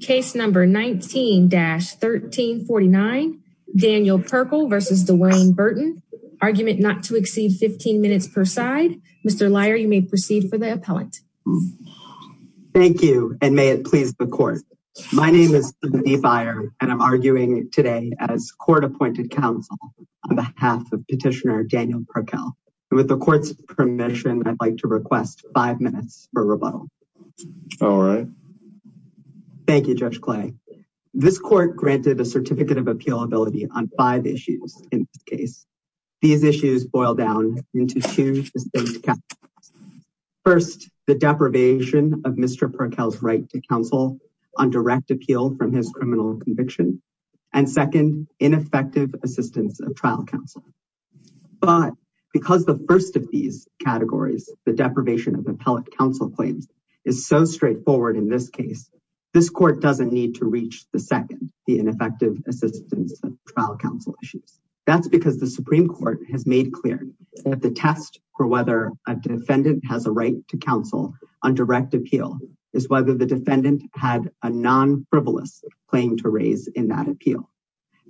Case number 19-1349 Daniel Pirkel v. DeWayne Burton Argument not to exceed 15 minutes per side. Mr. Lyer, you may proceed for the appellant. Thank you and may it please the court. My name is Timothy Lyer and I'm arguing today as court appointed counsel on behalf of petitioner Daniel Pirkel and with the court's permission I'd like to request five minutes for rebuttal. All right. Thank you, Judge Clay. This court granted a certificate of appealability on five issues in this case. These issues boil down into two distinct categories. First, the deprivation of Mr. Pirkel's right to counsel on direct appeal from his criminal conviction and second, ineffective assistance of trial counsel. But because the first of these categories, the deprivation of appellate counsel claims, is so straightforward in this case, this court doesn't need to reach the second, the ineffective assistance of trial counsel issues. That's because the Supreme Court has made clear that the test for whether a defendant has a right to counsel on direct appeal is whether the defendant had a non-frivolous claim to raise in that appeal.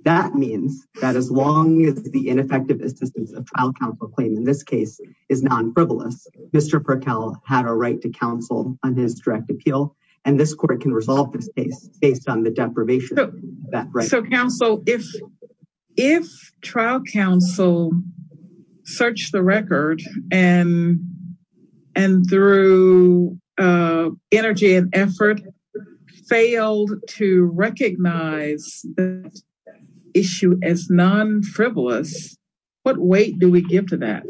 That means that as long as the ineffective assistance of trial counsel claim in this case is non-frivolous, Mr. Pirkel had a right to counsel on his direct appeal and this court can resolve this case based on the deprivation. So counsel, if trial counsel searched the record and through energy and effort failed to recognize that issue as non-frivolous, what weight do we give to that?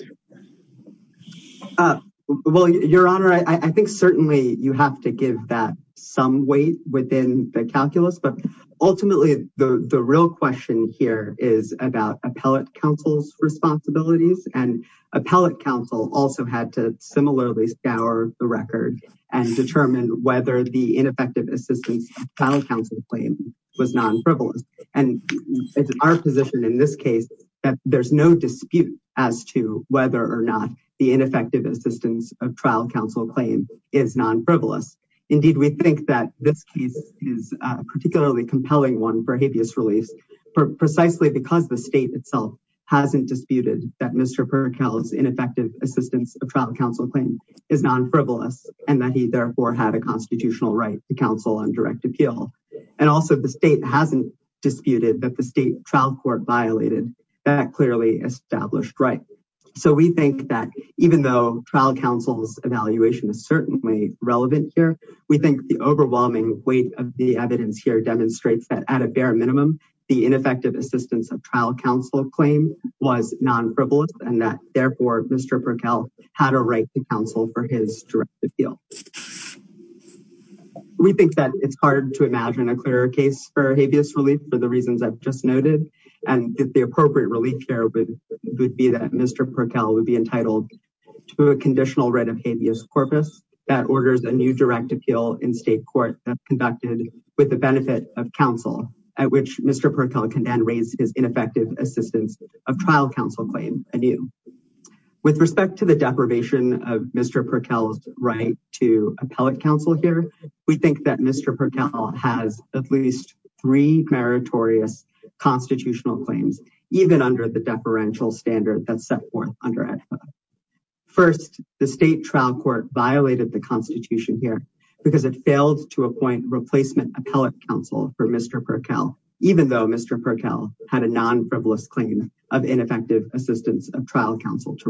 Well, your honor, I think certainly you have to give that some weight within the calculus, but ultimately the real question here is about appellate counsel's responsibilities and appellate counsel also had to similarly scour the record and determine whether the ineffective assistance trial counsel claim was non-frivolous. And it's our position in this case that there's no dispute as to whether or not the ineffective assistance of trial counsel claim is non-frivolous. Indeed, we think that this case is a particularly compelling one for habeas release precisely because the state itself hasn't disputed that Mr. Pirkel's ineffective assistance of trial counsel claim is non-frivolous and that he therefore had a constitutional right to counsel on direct appeal. And also the state hasn't disputed that the state trial court violated that clearly established right. So we think that even though trial counsel's evaluation is certainly relevant here, we think the overwhelming weight of the evidence here demonstrates that at a bare minimum, the ineffective assistance of trial counsel claim was non-frivolous and that it's hard to imagine a clearer case for habeas relief for the reasons I've just noted and that the appropriate relief here would be that Mr. Pirkel would be entitled to a conditional right of habeas corpus that orders a new direct appeal in state court that's conducted with the benefit of counsel at which Mr. Pirkel can then raise his ineffective assistance of trial counsel claim anew. With respect to the deprivation of Mr. Pirkel's right to appellate counsel here, we think that Mr. Pirkel has at least three meritorious constitutional claims even under the deferential standard that's set forth under EDFA. First, the state trial court violated the constitution here because it failed to appoint replacement appellate counsel for Mr. Pirkel, even though Mr. Pirkel had a non-frivolous claim of ineffective assistance of trial counsel to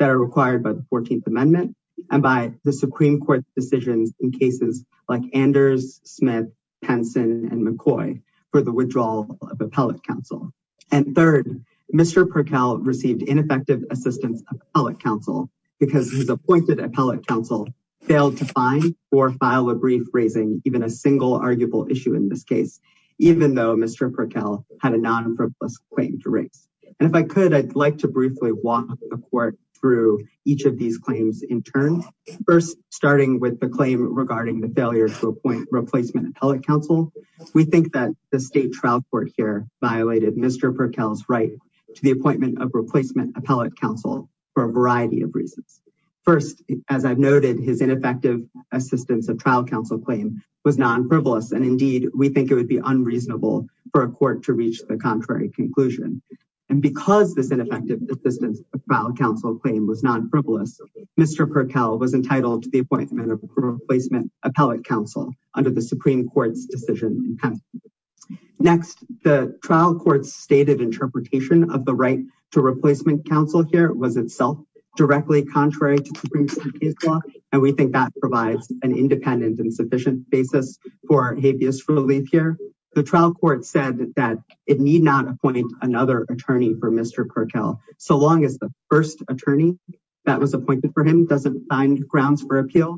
are required by the 14th amendment and by the supreme court decisions in cases like Anders, Smith, Penson, and McCoy for the withdrawal of appellate counsel. And third, Mr. Pirkel received ineffective assistance of appellate counsel because his appointed appellate counsel failed to find or file a brief raising even a single arguable issue in this case, even though Mr. Pirkel had a non-frivolous claim to raise. And if I could, I'd like to briefly walk the court through each of these claims in turn. First, starting with the claim regarding the failure to appoint replacement appellate counsel, we think that the state trial court here violated Mr. Pirkel's right to the appointment of replacement appellate counsel for a variety of reasons. First, as I've noted, his ineffective assistance of trial counsel claim was non-frivolous. And indeed, we think it would be unreasonable for a court to reach the contrary conclusion. And because this ineffective assistance of trial counsel claim was non-frivolous, Mr. Pirkel was entitled to the appointment of replacement appellate counsel under the supreme court's decision. Next, the trial court's stated interpretation of the right to replacement counsel here was itself directly contrary to the case law. And we think that provides an independent and sufficient basis for habeas relief here. The trial court said that it need not appoint another attorney for Mr. Pirkel, so long as the first attorney that was appointed for him doesn't find grounds for appeal.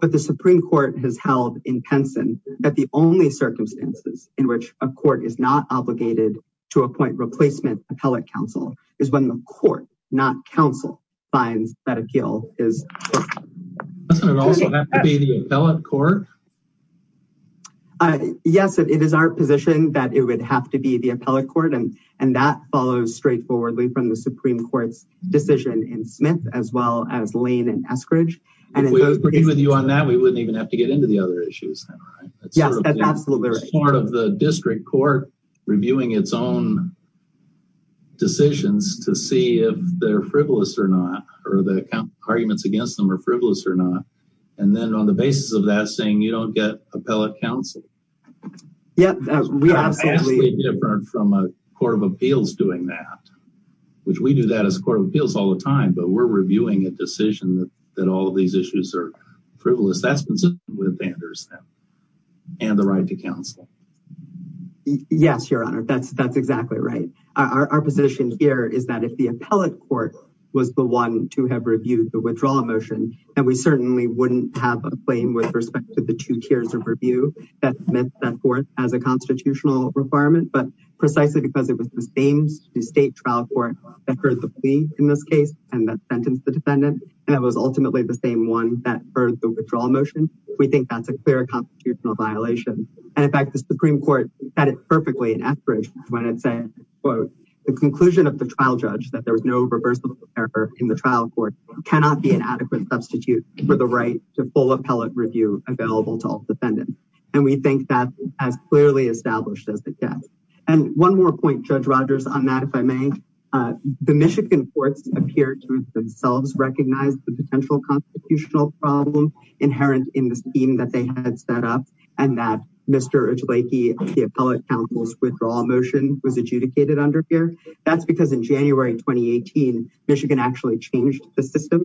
But the supreme court has held in Penson that the only circumstances in which a court is not obligated to appoint replacement appellate counsel is when the court, not counsel, finds that appeal is. Doesn't it also have to be the appellate court? Yes, it is our position that it would have to be the appellate court, and that follows straightforwardly from the supreme court's decision in Smith, as well as Lane and Eskridge. If we agree with you on that, we wouldn't even have to get into the other issues, right? Yes, that's absolutely right. It's part of the district court reviewing its own decisions to see if they're frivolous or not, or the arguments against them are frivolous or not. And then on the basis of that saying, you don't get appellate counsel. It's absolutely different from a court of appeals doing that, which we do that as a court of appeals all the time, but we're reviewing a decision that all of these issues are frivolous. That's consistent with Anders and the right to counsel. Yes, your honor, that's exactly right. Our position here is that if the appellate court was the one to have reviewed the withdrawal motion, then we certainly wouldn't have a claim with respect to the two tiers of review that Smith set forth as a constitutional requirement, but precisely because it was the same state trial court that heard the plea in this case, and that sentenced the defendant, and that was ultimately the same one that heard the withdrawal motion, we think that's a clear constitutional violation. And in fact, the supreme court said it perfectly in Eskridge when it said, quote, the conclusion of the trial judge that there was no reversible error in the trial court cannot be an adequate substitute for the right to full appellate review available to all defendants. And we think that's as clearly established as it gets. And one more point, Judge Rogers, on that, if I may, the Michigan courts appear to themselves recognize the potential constitutional problem inherent in the scheme that they had set up, and that Mr. Edgeleki, the appellate counsel's withdrawal motion was adjudicated under here. That's because in January of 2018, Michigan actually changed the system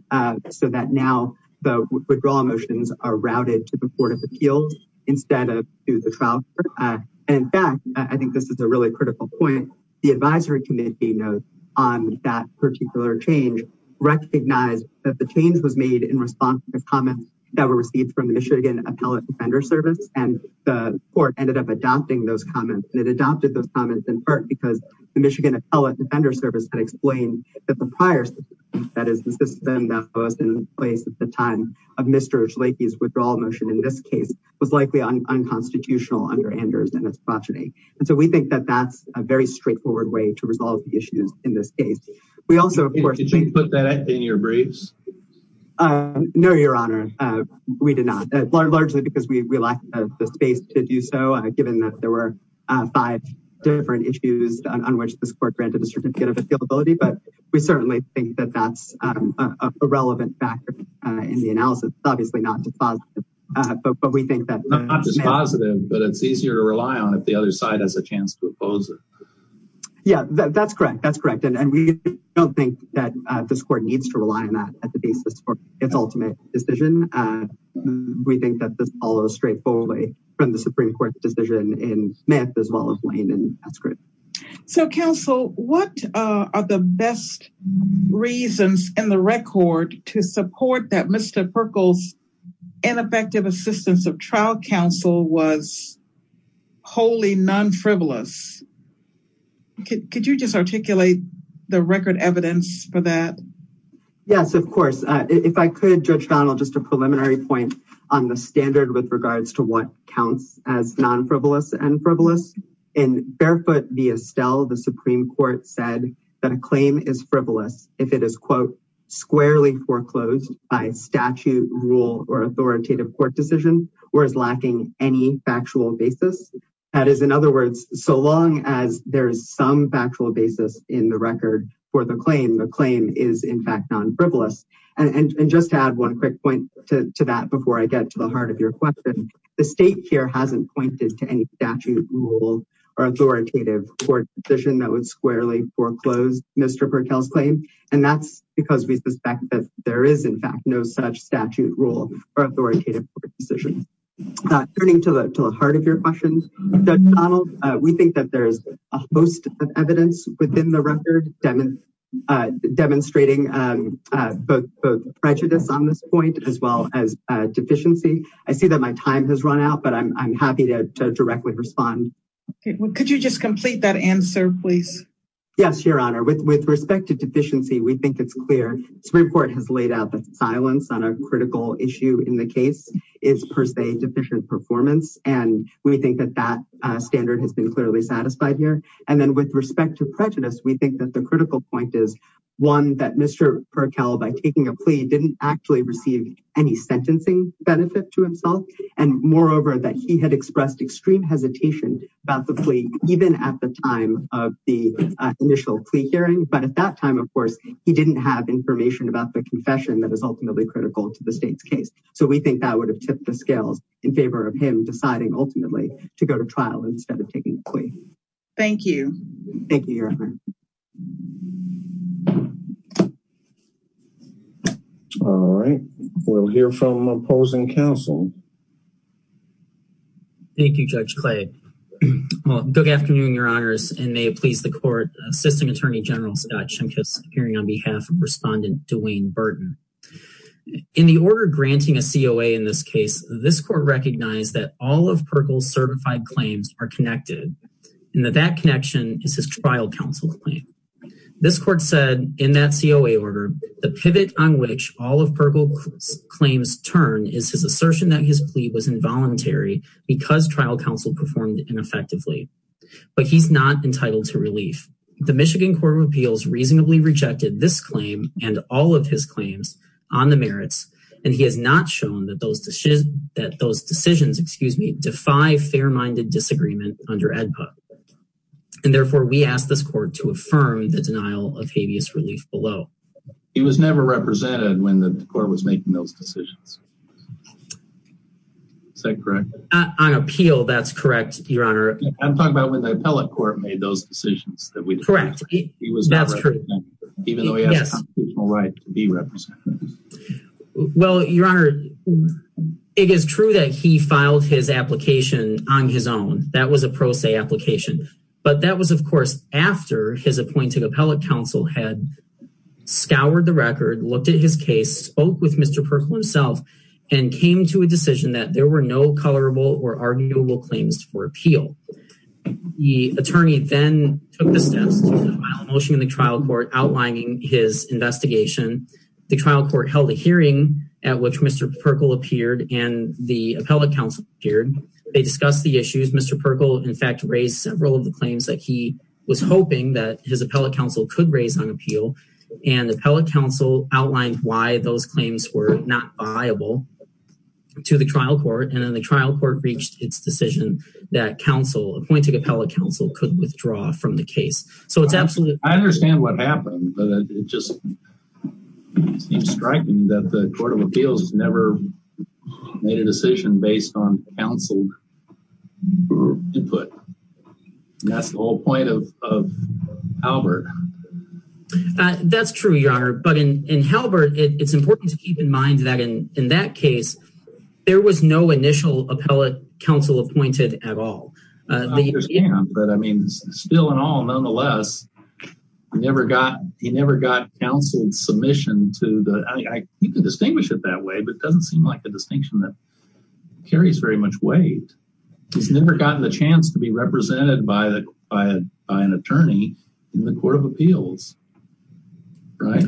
so that now the withdrawal motions are routed to the Court of Appeals instead of to the trial court. And in fact, I think this is a really critical point, the advisory committee note on that particular change recognized that the change was made in response to the comments that were received from the Michigan Appellate Defender Service, and the court ended up adopting those comments, and it adopted those comments in part because the Michigan Appellate Defender Service had explained that the prior system, that is the system that was in place at the time of Mr. Edgeleki's withdrawal motion in this case, was likely unconstitutional under Anders and his progeny. And so we think that that's a very straightforward way to resolve the issues in this case. We also, of course, put that in your briefs. No, Your Honor, we did not, largely because we lack the space to do so, given that there were five different issues on which this granted a certificate of appealability, but we certainly think that that's a relevant factor in the analysis. It's obviously not dispositive, but we think that— Not dispositive, but it's easier to rely on if the other side has a chance to oppose it. Yeah, that's correct. That's correct. And we don't think that this court needs to rely on that at the basis for its ultimate decision. We think that this follows straightforwardly from the Supreme Court's decision in Smith as well as Lane and Askerud. So, counsel, what are the best reasons in the record to support that Mr. Perkle's ineffective assistance of trial counsel was wholly non-frivolous? Could you just articulate the record evidence for that? Yes, of course. If I could, Judge Donald, just a preliminary point on the standard with regards to counts as non-frivolous and frivolous. In Fairfoot v. Estelle, the Supreme Court said that a claim is frivolous if it is, quote, squarely foreclosed by statute, rule, or authoritative court decision or is lacking any factual basis. That is, in other words, so long as there is some factual basis in the record for the claim, the claim is in fact non-frivolous. And just to add one quick point to that before I get to the heart of your question, the state here hasn't pointed to any statute, rule, or authoritative court decision that would squarely foreclose Mr. Perkle's claim, and that's because we suspect that there is in fact no such statute, rule, or authoritative court decision. Turning to the heart of your question, Judge Donald, we think that there is a host of evidence within the record demonstrating both prejudice on this point as well as deficiency. I see that my time has run out, but I'm happy to directly respond. Could you just complete that answer, please? Yes, Your Honor. With respect to deficiency, we think it's clear. The Supreme Court has laid out that silence on a critical issue in the case is per se deficient performance, and we think that that standard has been clearly satisfied here. And then with respect to prejudice, we think that the critical point is, one, that Mr. Perkle, by taking a plea, didn't actually receive any sentencing benefit to himself, and moreover that he had expressed extreme hesitation about the plea even at the time of the initial plea hearing. But at that time, of course, he didn't have information about the confession that is ultimately critical to the state's case. So we think that would have tipped the scales in favor of him deciding ultimately to go to trial instead of taking a plea. Thank you. Thank you, Your Honor. All right, we'll hear from opposing counsel. Thank you, Judge Clay. Good afternoon, Your Honors, and may it please the Court, Assisting Attorney General Scott Shimkus, hearing on behalf of Respondent Dwayne Burton. In the order granting a COA in this case, this Court recognized that all of Perkle's certified claims are connected, and that that connection is his trial counsel claim. This Court said, in that COA order, the pivot on which all of Perkle's claims turn is his assertion that his plea was involuntary because trial counsel performed ineffectively. But he's not entitled to relief. The Michigan Court of Appeals reasonably rejected this claim and all of his claims on the merits, and he has not shown that those decisions, excuse me, defy fair-minded disagreement under AEDPA. And therefore, we ask this Court to affirm the denial of habeas relief below. He was never represented when the Court was making those decisions. Is that correct? On appeal, that's correct, Your Honor. I'm talking about when the Appellate Court made those decisions. Correct. That's true. Even though he has a constitutional right to be represented. Well, Your Honor, it is true that he filed his application on his own. That was a pro se application. But that was, of course, after his appointed appellate counsel had scoured the record, looked at his case, spoke with Mr. Perkle himself, and came to a decision that there were no colorable or arguable claims for appeal. The attorney then took the steps to file a motion in the trial court outlining his investigation. The trial court held a hearing at which Mr. Perkle appeared and the appellate counsel appeared. They discussed the issues. Mr. Perkle, in fact, raised several of the claims that he was hoping that his appellate counsel could raise on appeal. And the appellate counsel outlined why those claims were not viable to the trial court. And then the trial court reached its decision that counsel, appointed appellate counsel, could withdraw from the case. So it's absolutely... I understand what happened, but it just seems striking that the Court of Appeals has never made a decision based on counsel input. That's the whole point of Halbert. That's true, Your Honor. But in Halbert, it's important to keep in mind that in that case, there was no initial appellate counsel appointed at all. I understand, but I mean, still in all, nonetheless, he never got counsel submission to the... I think you can distinguish it that way, but it doesn't seem like a distinction that carries very much weight. He's never gotten the chance to be represented by an attorney in the Court of Appeals, right?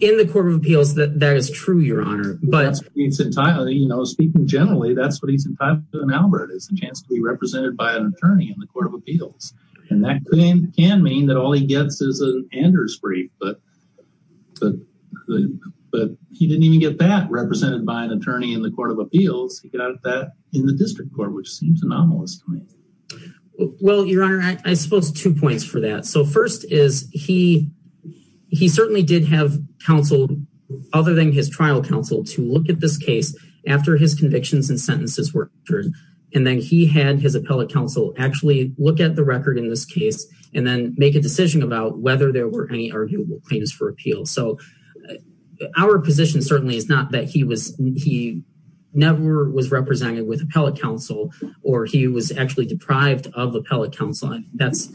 In the Court of Appeals, that is true, Your Honor. But speaking generally, that's what he's entitled to in Halbert, is a chance to be represented by an attorney in the Court of Appeals. And that can mean that all he gets is an Anders brief, but he didn't even get that represented by an attorney in the Court of Appeals. He got that in the district court, which seems anomalous to me. Well, Your Honor, I suppose two points for that. So first is he certainly did have counsel, other than his trial counsel, to look at this case after his convictions and sentences were entered. And then he had his appellate counsel actually look at the record in this case and then make a decision about whether there were any arguable claims for appeal. So our position certainly is not that he never was represented with appellate counsel or he was actually deprived of appellate counsel. That's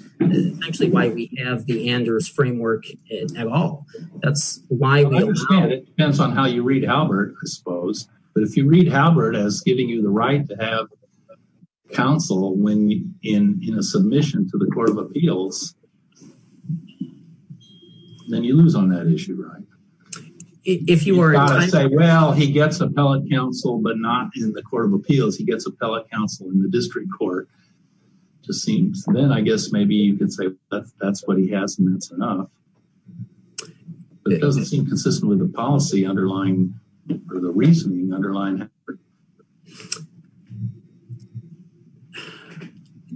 actually why we have the Anders framework at all. I understand it depends on how you read Halbert, I suppose. But if you read Halbert as giving you the right to have counsel in a submission to the Court of Appeals, then you lose on that issue, right? If you were to say, well, he gets appellate counsel, but not in the Court of Appeals. He gets appellate counsel in the district court, just seems. Then I guess maybe you could say that's what he has and that's enough. It doesn't seem consistent with the policy underlying or the reasoning underlying Halbert.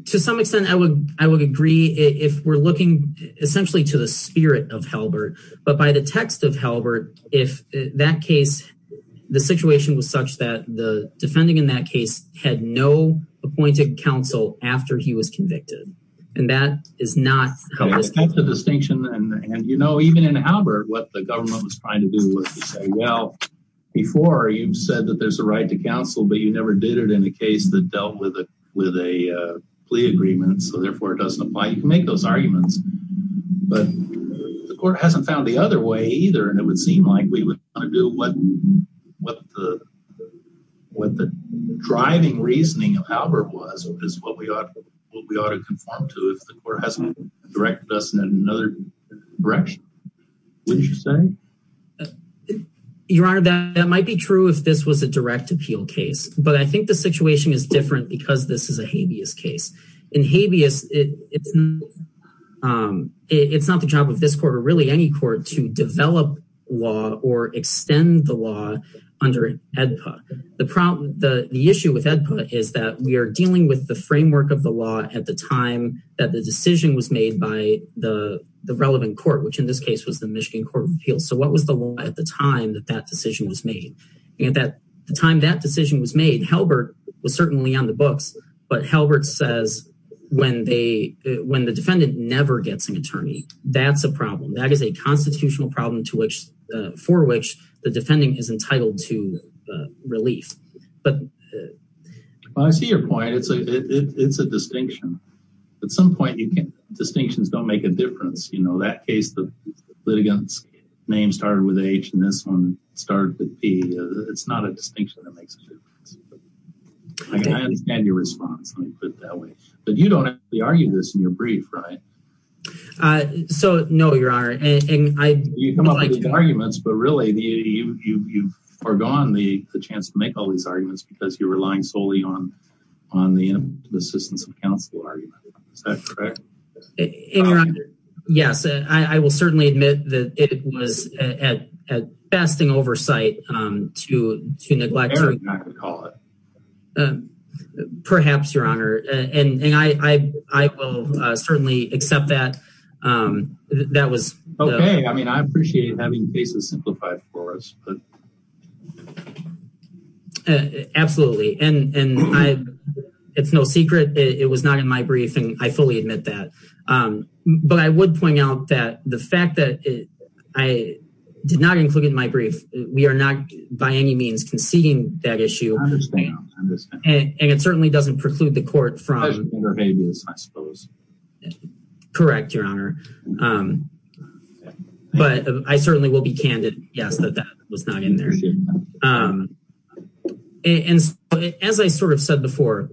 To some extent, I would agree if we're looking essentially to the spirit of Halbert. But by the text of Halbert, if that case, the situation was such that the defending in that case had no appointed counsel after he was convicted. And that is not how this case is. That's the distinction. And you know, even in Halbert, what the government was trying to do was to say, well, before you've said that there's a right to counsel, but you never did it in a with a plea agreement. So therefore it doesn't apply. You can make those arguments. But the court hasn't found the other way either. And it would seem like we would want to do what the driving reasoning of Halbert was, is what we ought to conform to if the court hasn't directed us in another direction. What did you say? Your Honor, that might be true if this was a direct appeal case. But I think the situation is different because this is a habeas case. In habeas, it's not the job of this court or really any court to develop law or extend the law under AEDPA. The issue with AEDPA is that we are dealing with the framework of the law at the time that the decision was made by the relevant court, which in this case was the Michigan Court of Appeals. So what was the law at the time that decision was made? And at the time that decision was made, Halbert was certainly on the books. But Halbert says when the defendant never gets an attorney, that's a problem. That is a constitutional problem for which the defending is entitled to relief. Well, I see your point. It's a distinction. At some point, distinctions don't make a difference. That case, the litigant's name started with H and this one started with P. It's not a distinction that makes a difference. I understand your response. Let me put it that way. But you don't actually argue this in your brief, right? No, Your Honor. You come up with these arguments, but really you've forgone the chance to make all these arguments because you're relying solely on the assistance of counsel argument. Is that correct? Yes, I will certainly admit that it was at best an oversight to neglect. Perhaps, Your Honor. And I will certainly accept that. Okay. I mean, I appreciate having cases simplified for us. Absolutely. And it's no secret, it was not in my brief and I fully admit that. But I would point out that the fact that I did not include in my brief, we are not by any means conceding that issue. I understand. And it certainly doesn't preclude the court from- I suppose. Correct, Your Honor. But I certainly will be candid, yes, that that was not in my brief. Sure. And as I sort of said before,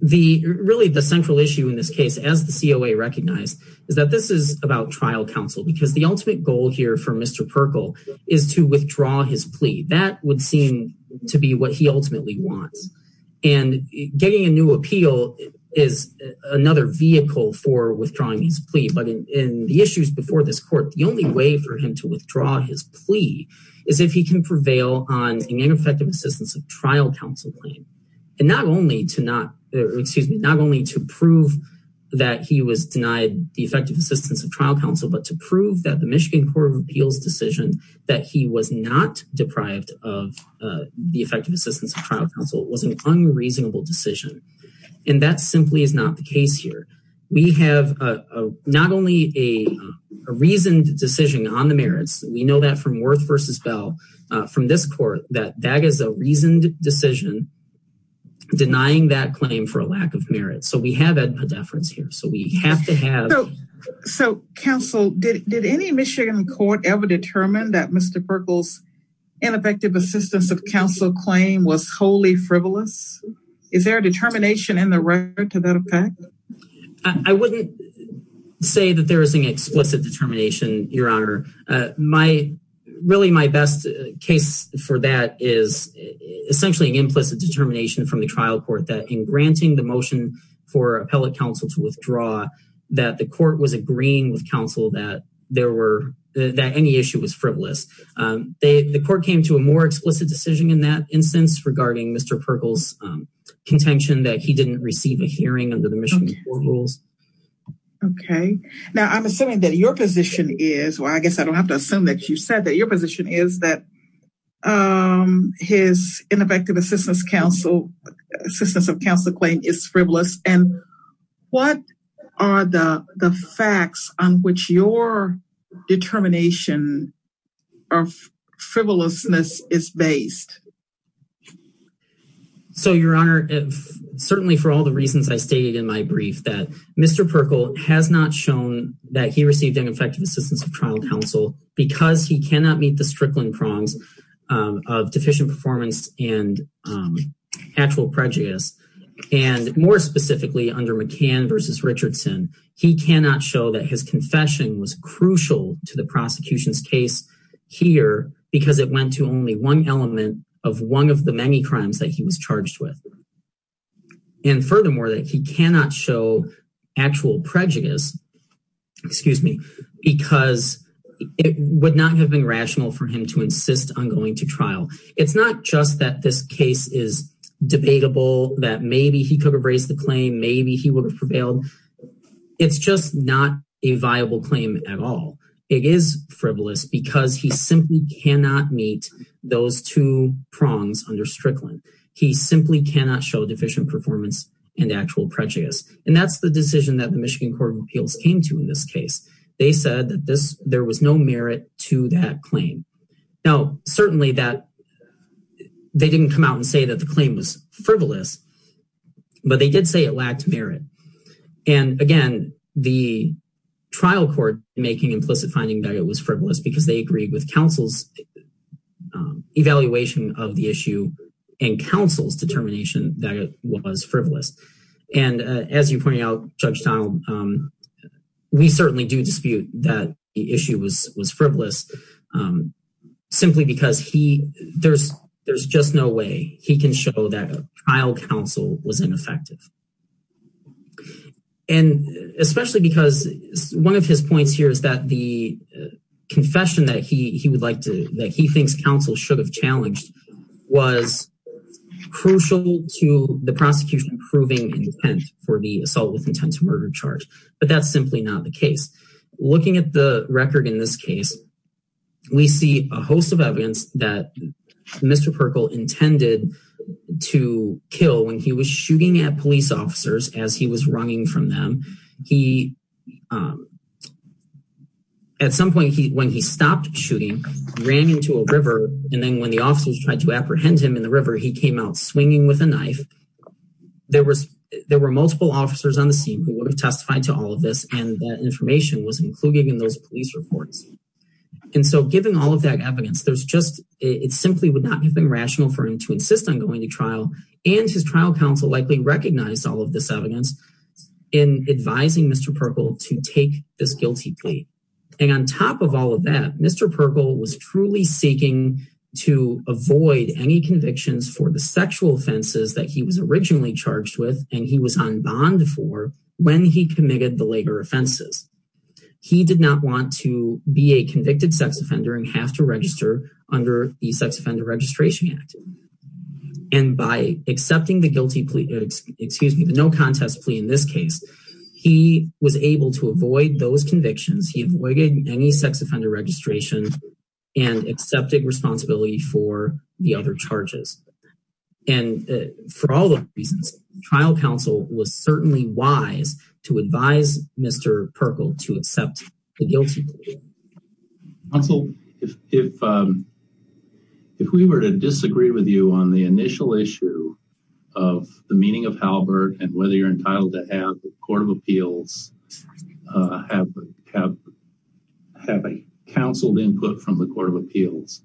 really the central issue in this case, as the COA recognized, is that this is about trial counsel, because the ultimate goal here for Mr. Perkle is to withdraw his plea. That would seem to be what he ultimately wants. And getting a new appeal is another vehicle for withdrawing his plea. But in the issues before this court, the only way for him to withdraw his plea is if he can prevail on an ineffective assistance of trial counsel claim. And not only to prove that he was denied the effective assistance of trial counsel, but to prove that the Michigan Court of Appeals decision that he was not deprived of the effective assistance of trial counsel was an unreasonable decision. And that simply is not the case here. We have not only a reasoned decision on the merits, we know that from Worth v. Bell, from this court, that that is a reasoned decision denying that claim for a lack of merit. So we have a deference here. So we have to have- So counsel, did any Michigan court ever determine that Mr. Perkle's ineffective assistance of frivolous? Is there a determination in the record to that effect? I wouldn't say that there is an explicit determination, Your Honor. Really my best case for that is essentially an implicit determination from the trial court that in granting the motion for appellate counsel to withdraw, that the court was agreeing with counsel that any issue was frivolous. The court came to a more explicit decision in that instance regarding Mr. Perkle's contention that he didn't receive a hearing under the Michigan court rules. Okay. Now I'm assuming that your position is- Well, I guess I don't have to assume that you said that your position is that his ineffective assistance of counsel claim is frivolous. And what are the facts on which your determination of frivolousness is based? So, Your Honor, certainly for all the reasons I stated in my brief that Mr. Perkle has not shown that he received ineffective assistance of trial counsel because he cannot meet the strickling prongs of deficient performance and actual prejudice. And more specifically under McCann versus Richardson, he cannot show that his confession was crucial to the prosecution's case here because it went to only one element of one of the many crimes that he was charged with. And furthermore, that he cannot show actual prejudice, excuse me, because it would not have been rational for him to insist on going to trial. It's not just that this case is debatable, that maybe he could have raised the claim, maybe he would have prevailed. It's just not a viable claim at all. It is frivolous because he simply cannot meet those two prongs under strickling. He simply cannot show deficient performance and actual prejudice. And that's the decision that the Michigan Court of Appeals came to in this case. They said that there was no merit to that claim. Now, certainly they didn't come out and say that the claim was frivolous, but they did say it lacked merit. And again, the trial court making implicit finding that it was frivolous because they agreed with counsel's evaluation of the issue and counsel's determination that it was frivolous. And as you pointed out, Judge Donald, we certainly do dispute that the ineffective. And especially because one of his points here is that the confession that he would like to, that he thinks counsel should have challenged was crucial to the prosecution proving intent for the assault with intent to murder charge. But that's simply not the case. Looking at the record in this case, we see a host of evidence that Mr. Perkle intended to kill when he was shooting at police officers as he was running from them. He, at some point when he stopped shooting, ran into a river. And then when the officers tried to apprehend him in the river, he came out swinging with a knife. There were multiple officers on the scene who would have testified to all of this. And that information was included in those police reports. And so given all of that evidence, there's just, it simply would not have been rational for him to insist on going to trial. And his trial counsel likely recognized all of this evidence in advising Mr. Perkle to take this guilty plea. And on top of all of that, Mr. Perkle was truly seeking to avoid any convictions for the sexual offenses that he was originally charged with. And he was on bond for when he committed the later offenses. He did not want to be a convicted sex offender and have to register under the sex offender registration act. And by accepting the guilty plea, excuse me, the no contest plea in this case, he was able to avoid those convictions. He avoided any sex offender registration and accepted responsibility for the other charges. And for all the reasons, trial counsel was certainly wise to advise Mr. Perkle to accept the guilty plea. Counsel, if we were to disagree with you on the initial issue of the meaning of Halbert and whether you're entitled to have the court of appeals have counseled input from the court of appeals,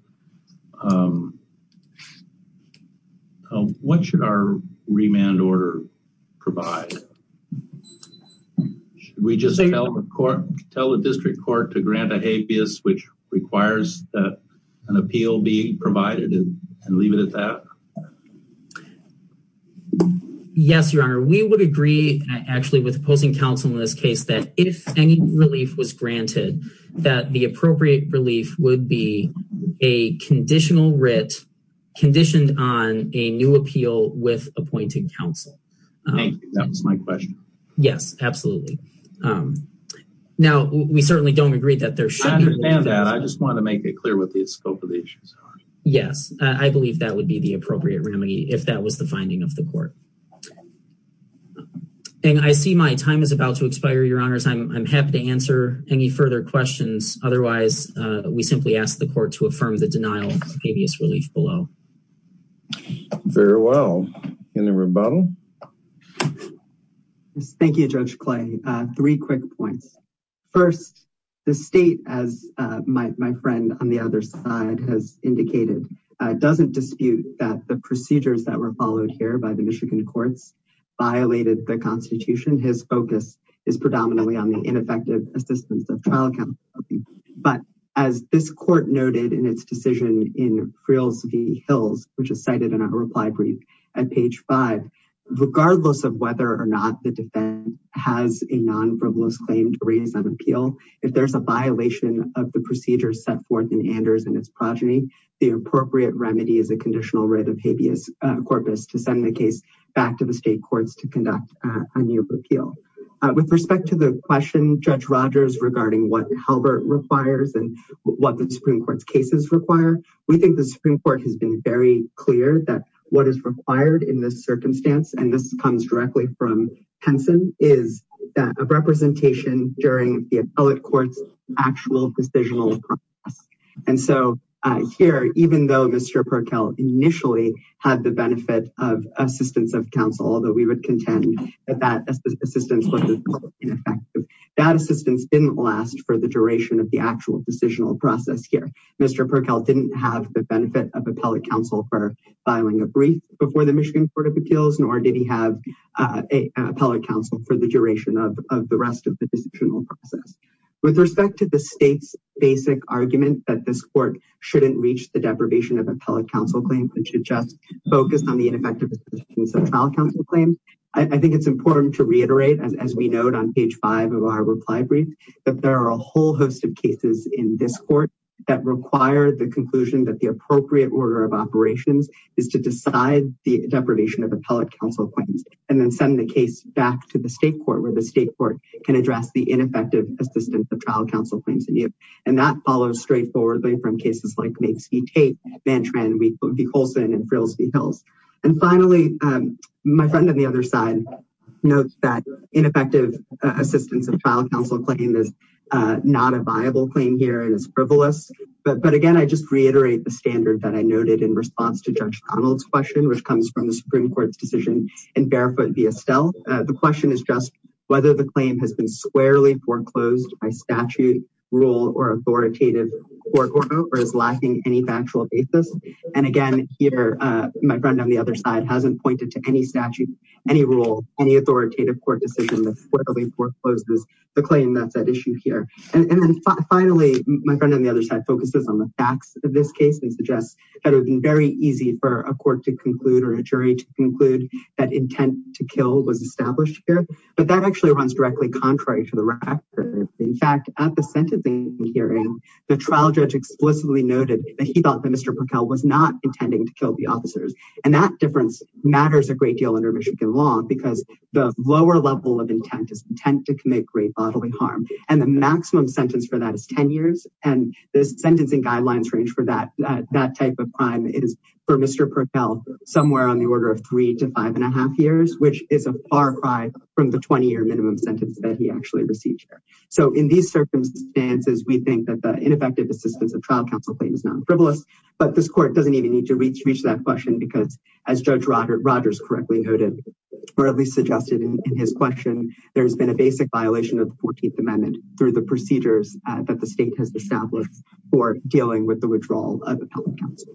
what should our remand order provide? Should we just tell the court, tell the district court to grant a habeas, which requires that an appeal be provided and leave it at that? Yes, your honor, we would agree actually with opposing counsel in this case that if any relief was granted, that the appropriate relief would be a conditional writ conditioned on a new appeal with appointed counsel. Thank you. That was my question. Yes, absolutely. Now we certainly don't agree that there should be. I understand that. I just want to make it clear what the scope of the issues are. Yes, I believe that would be the appropriate remedy if that was the finding of the court. And I see my time is about to expire your honors. I'm happy to answer any further questions. Otherwise, we simply ask the court to affirm the denial of habeas relief below. Okay. Very well. Any rebuttal? Thank you, Judge Clay. Three quick points. First, the state, as my friend on the other side has indicated, doesn't dispute that the procedures that were followed here by the Michigan courts violated the constitution. His focus is predominantly on the ineffective assistance of Hills, which is cited in our reply brief at page five, regardless of whether or not the defense has a non-frivolous claim to raise an appeal. If there's a violation of the procedures set forth in Anders and its progeny, the appropriate remedy is a conditional writ of habeas corpus to send the case back to the state courts to conduct a new appeal. With respect to the question, Judge Rogers, regarding what Halbert requires and what the Supreme Court's cases require, we think the Supreme Court has been very clear that what is required in this circumstance, and this comes directly from Henson, is a representation during the appellate court's actual decisional process. And so here, even though Mr. Perkel initially had the benefit of assistance of counsel, although we would contend that that assistance was ineffective, that assistance didn't last for the duration of the actual decisional process here. Mr. Perkel didn't have the benefit of appellate counsel for filing a brief before the Michigan Court of Appeals, nor did he have an appellate counsel for the duration of the rest of the decisional process. With respect to the state's basic argument that this court shouldn't reach the deprivation of appellate counsel claim and should just focus on the ineffective assistance of trial counsel claim, I think it's important to reiterate, as we note on page five of our reply brief, that there are a whole host of cases in this court that require the conclusion that the appropriate order of operations is to decide the deprivation of appellate counsel claims, and then send the case back to the state court, where the state court can address the ineffective assistance of trial counsel claims in you. And that follows straightforwardly from cases like Migs v. Tate, Mantran v. Colson, and Frills v. Hills. And finally, my friend on the other side notes that ineffective assistance of trial counsel claim is not a viable claim here, and it's frivolous. But again, I just reiterate the standard that I noted in response to Judge Connell's question, which comes from the Supreme Court's decision in Barefoot v. Estelle. The question is just whether the claim has been squarely foreclosed by statute, rule, or authoritative court order, or is lacking any factual basis. And again, here, my friend on the other side hasn't pointed to any statute, any rule, any authoritative court decision that squarely forecloses the claim that's at issue here. And then finally, my friend on the other side focuses on the facts of this case and suggests that it would have been very easy for a court to conclude or a jury to conclude that intent to kill was established here. But that actually runs directly contrary to the record. In fact, at the sentencing hearing, the trial judge explicitly noted that he thought Mr. Perkel was not intending to kill the officers. And that difference matters a great deal under Michigan law because the lower level of intent is intent to commit great bodily harm. And the maximum sentence for that is 10 years. And the sentencing guidelines range for that type of crime is for Mr. Perkel somewhere on the order of three to five and a half years, which is a far cry from the 20-year minimum sentence that he actually received here. So in these circumstances, we but this court doesn't even need to reach that question because as Judge Rogers correctly noted, or at least suggested in his question, there's been a basic violation of the 14th Amendment through the procedures that the state has established for dealing with the withdrawal of the public counsel.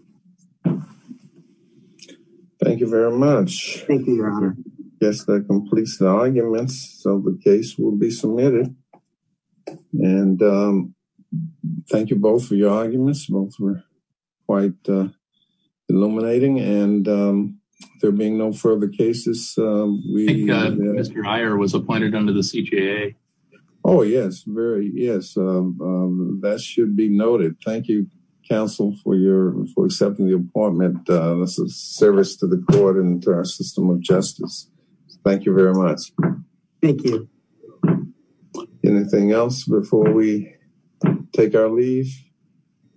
Thank you very much. Thank you, Your Honor. Yes, that completes the arguments so the case will be submitted. And thank you both for your arguments. Both were quite illuminating and there being no further cases. Mr. Hire was appointed under the CJA. Oh, yes, very. Yes. That should be noted. Thank you, counsel for your for accepting the appointment. This is service to the court and to our system of justice. Thank you very much. Thank you. Anything else before we take our leave?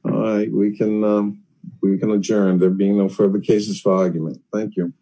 All right, we can we can adjourn. There being no further cases for argument. Thank you.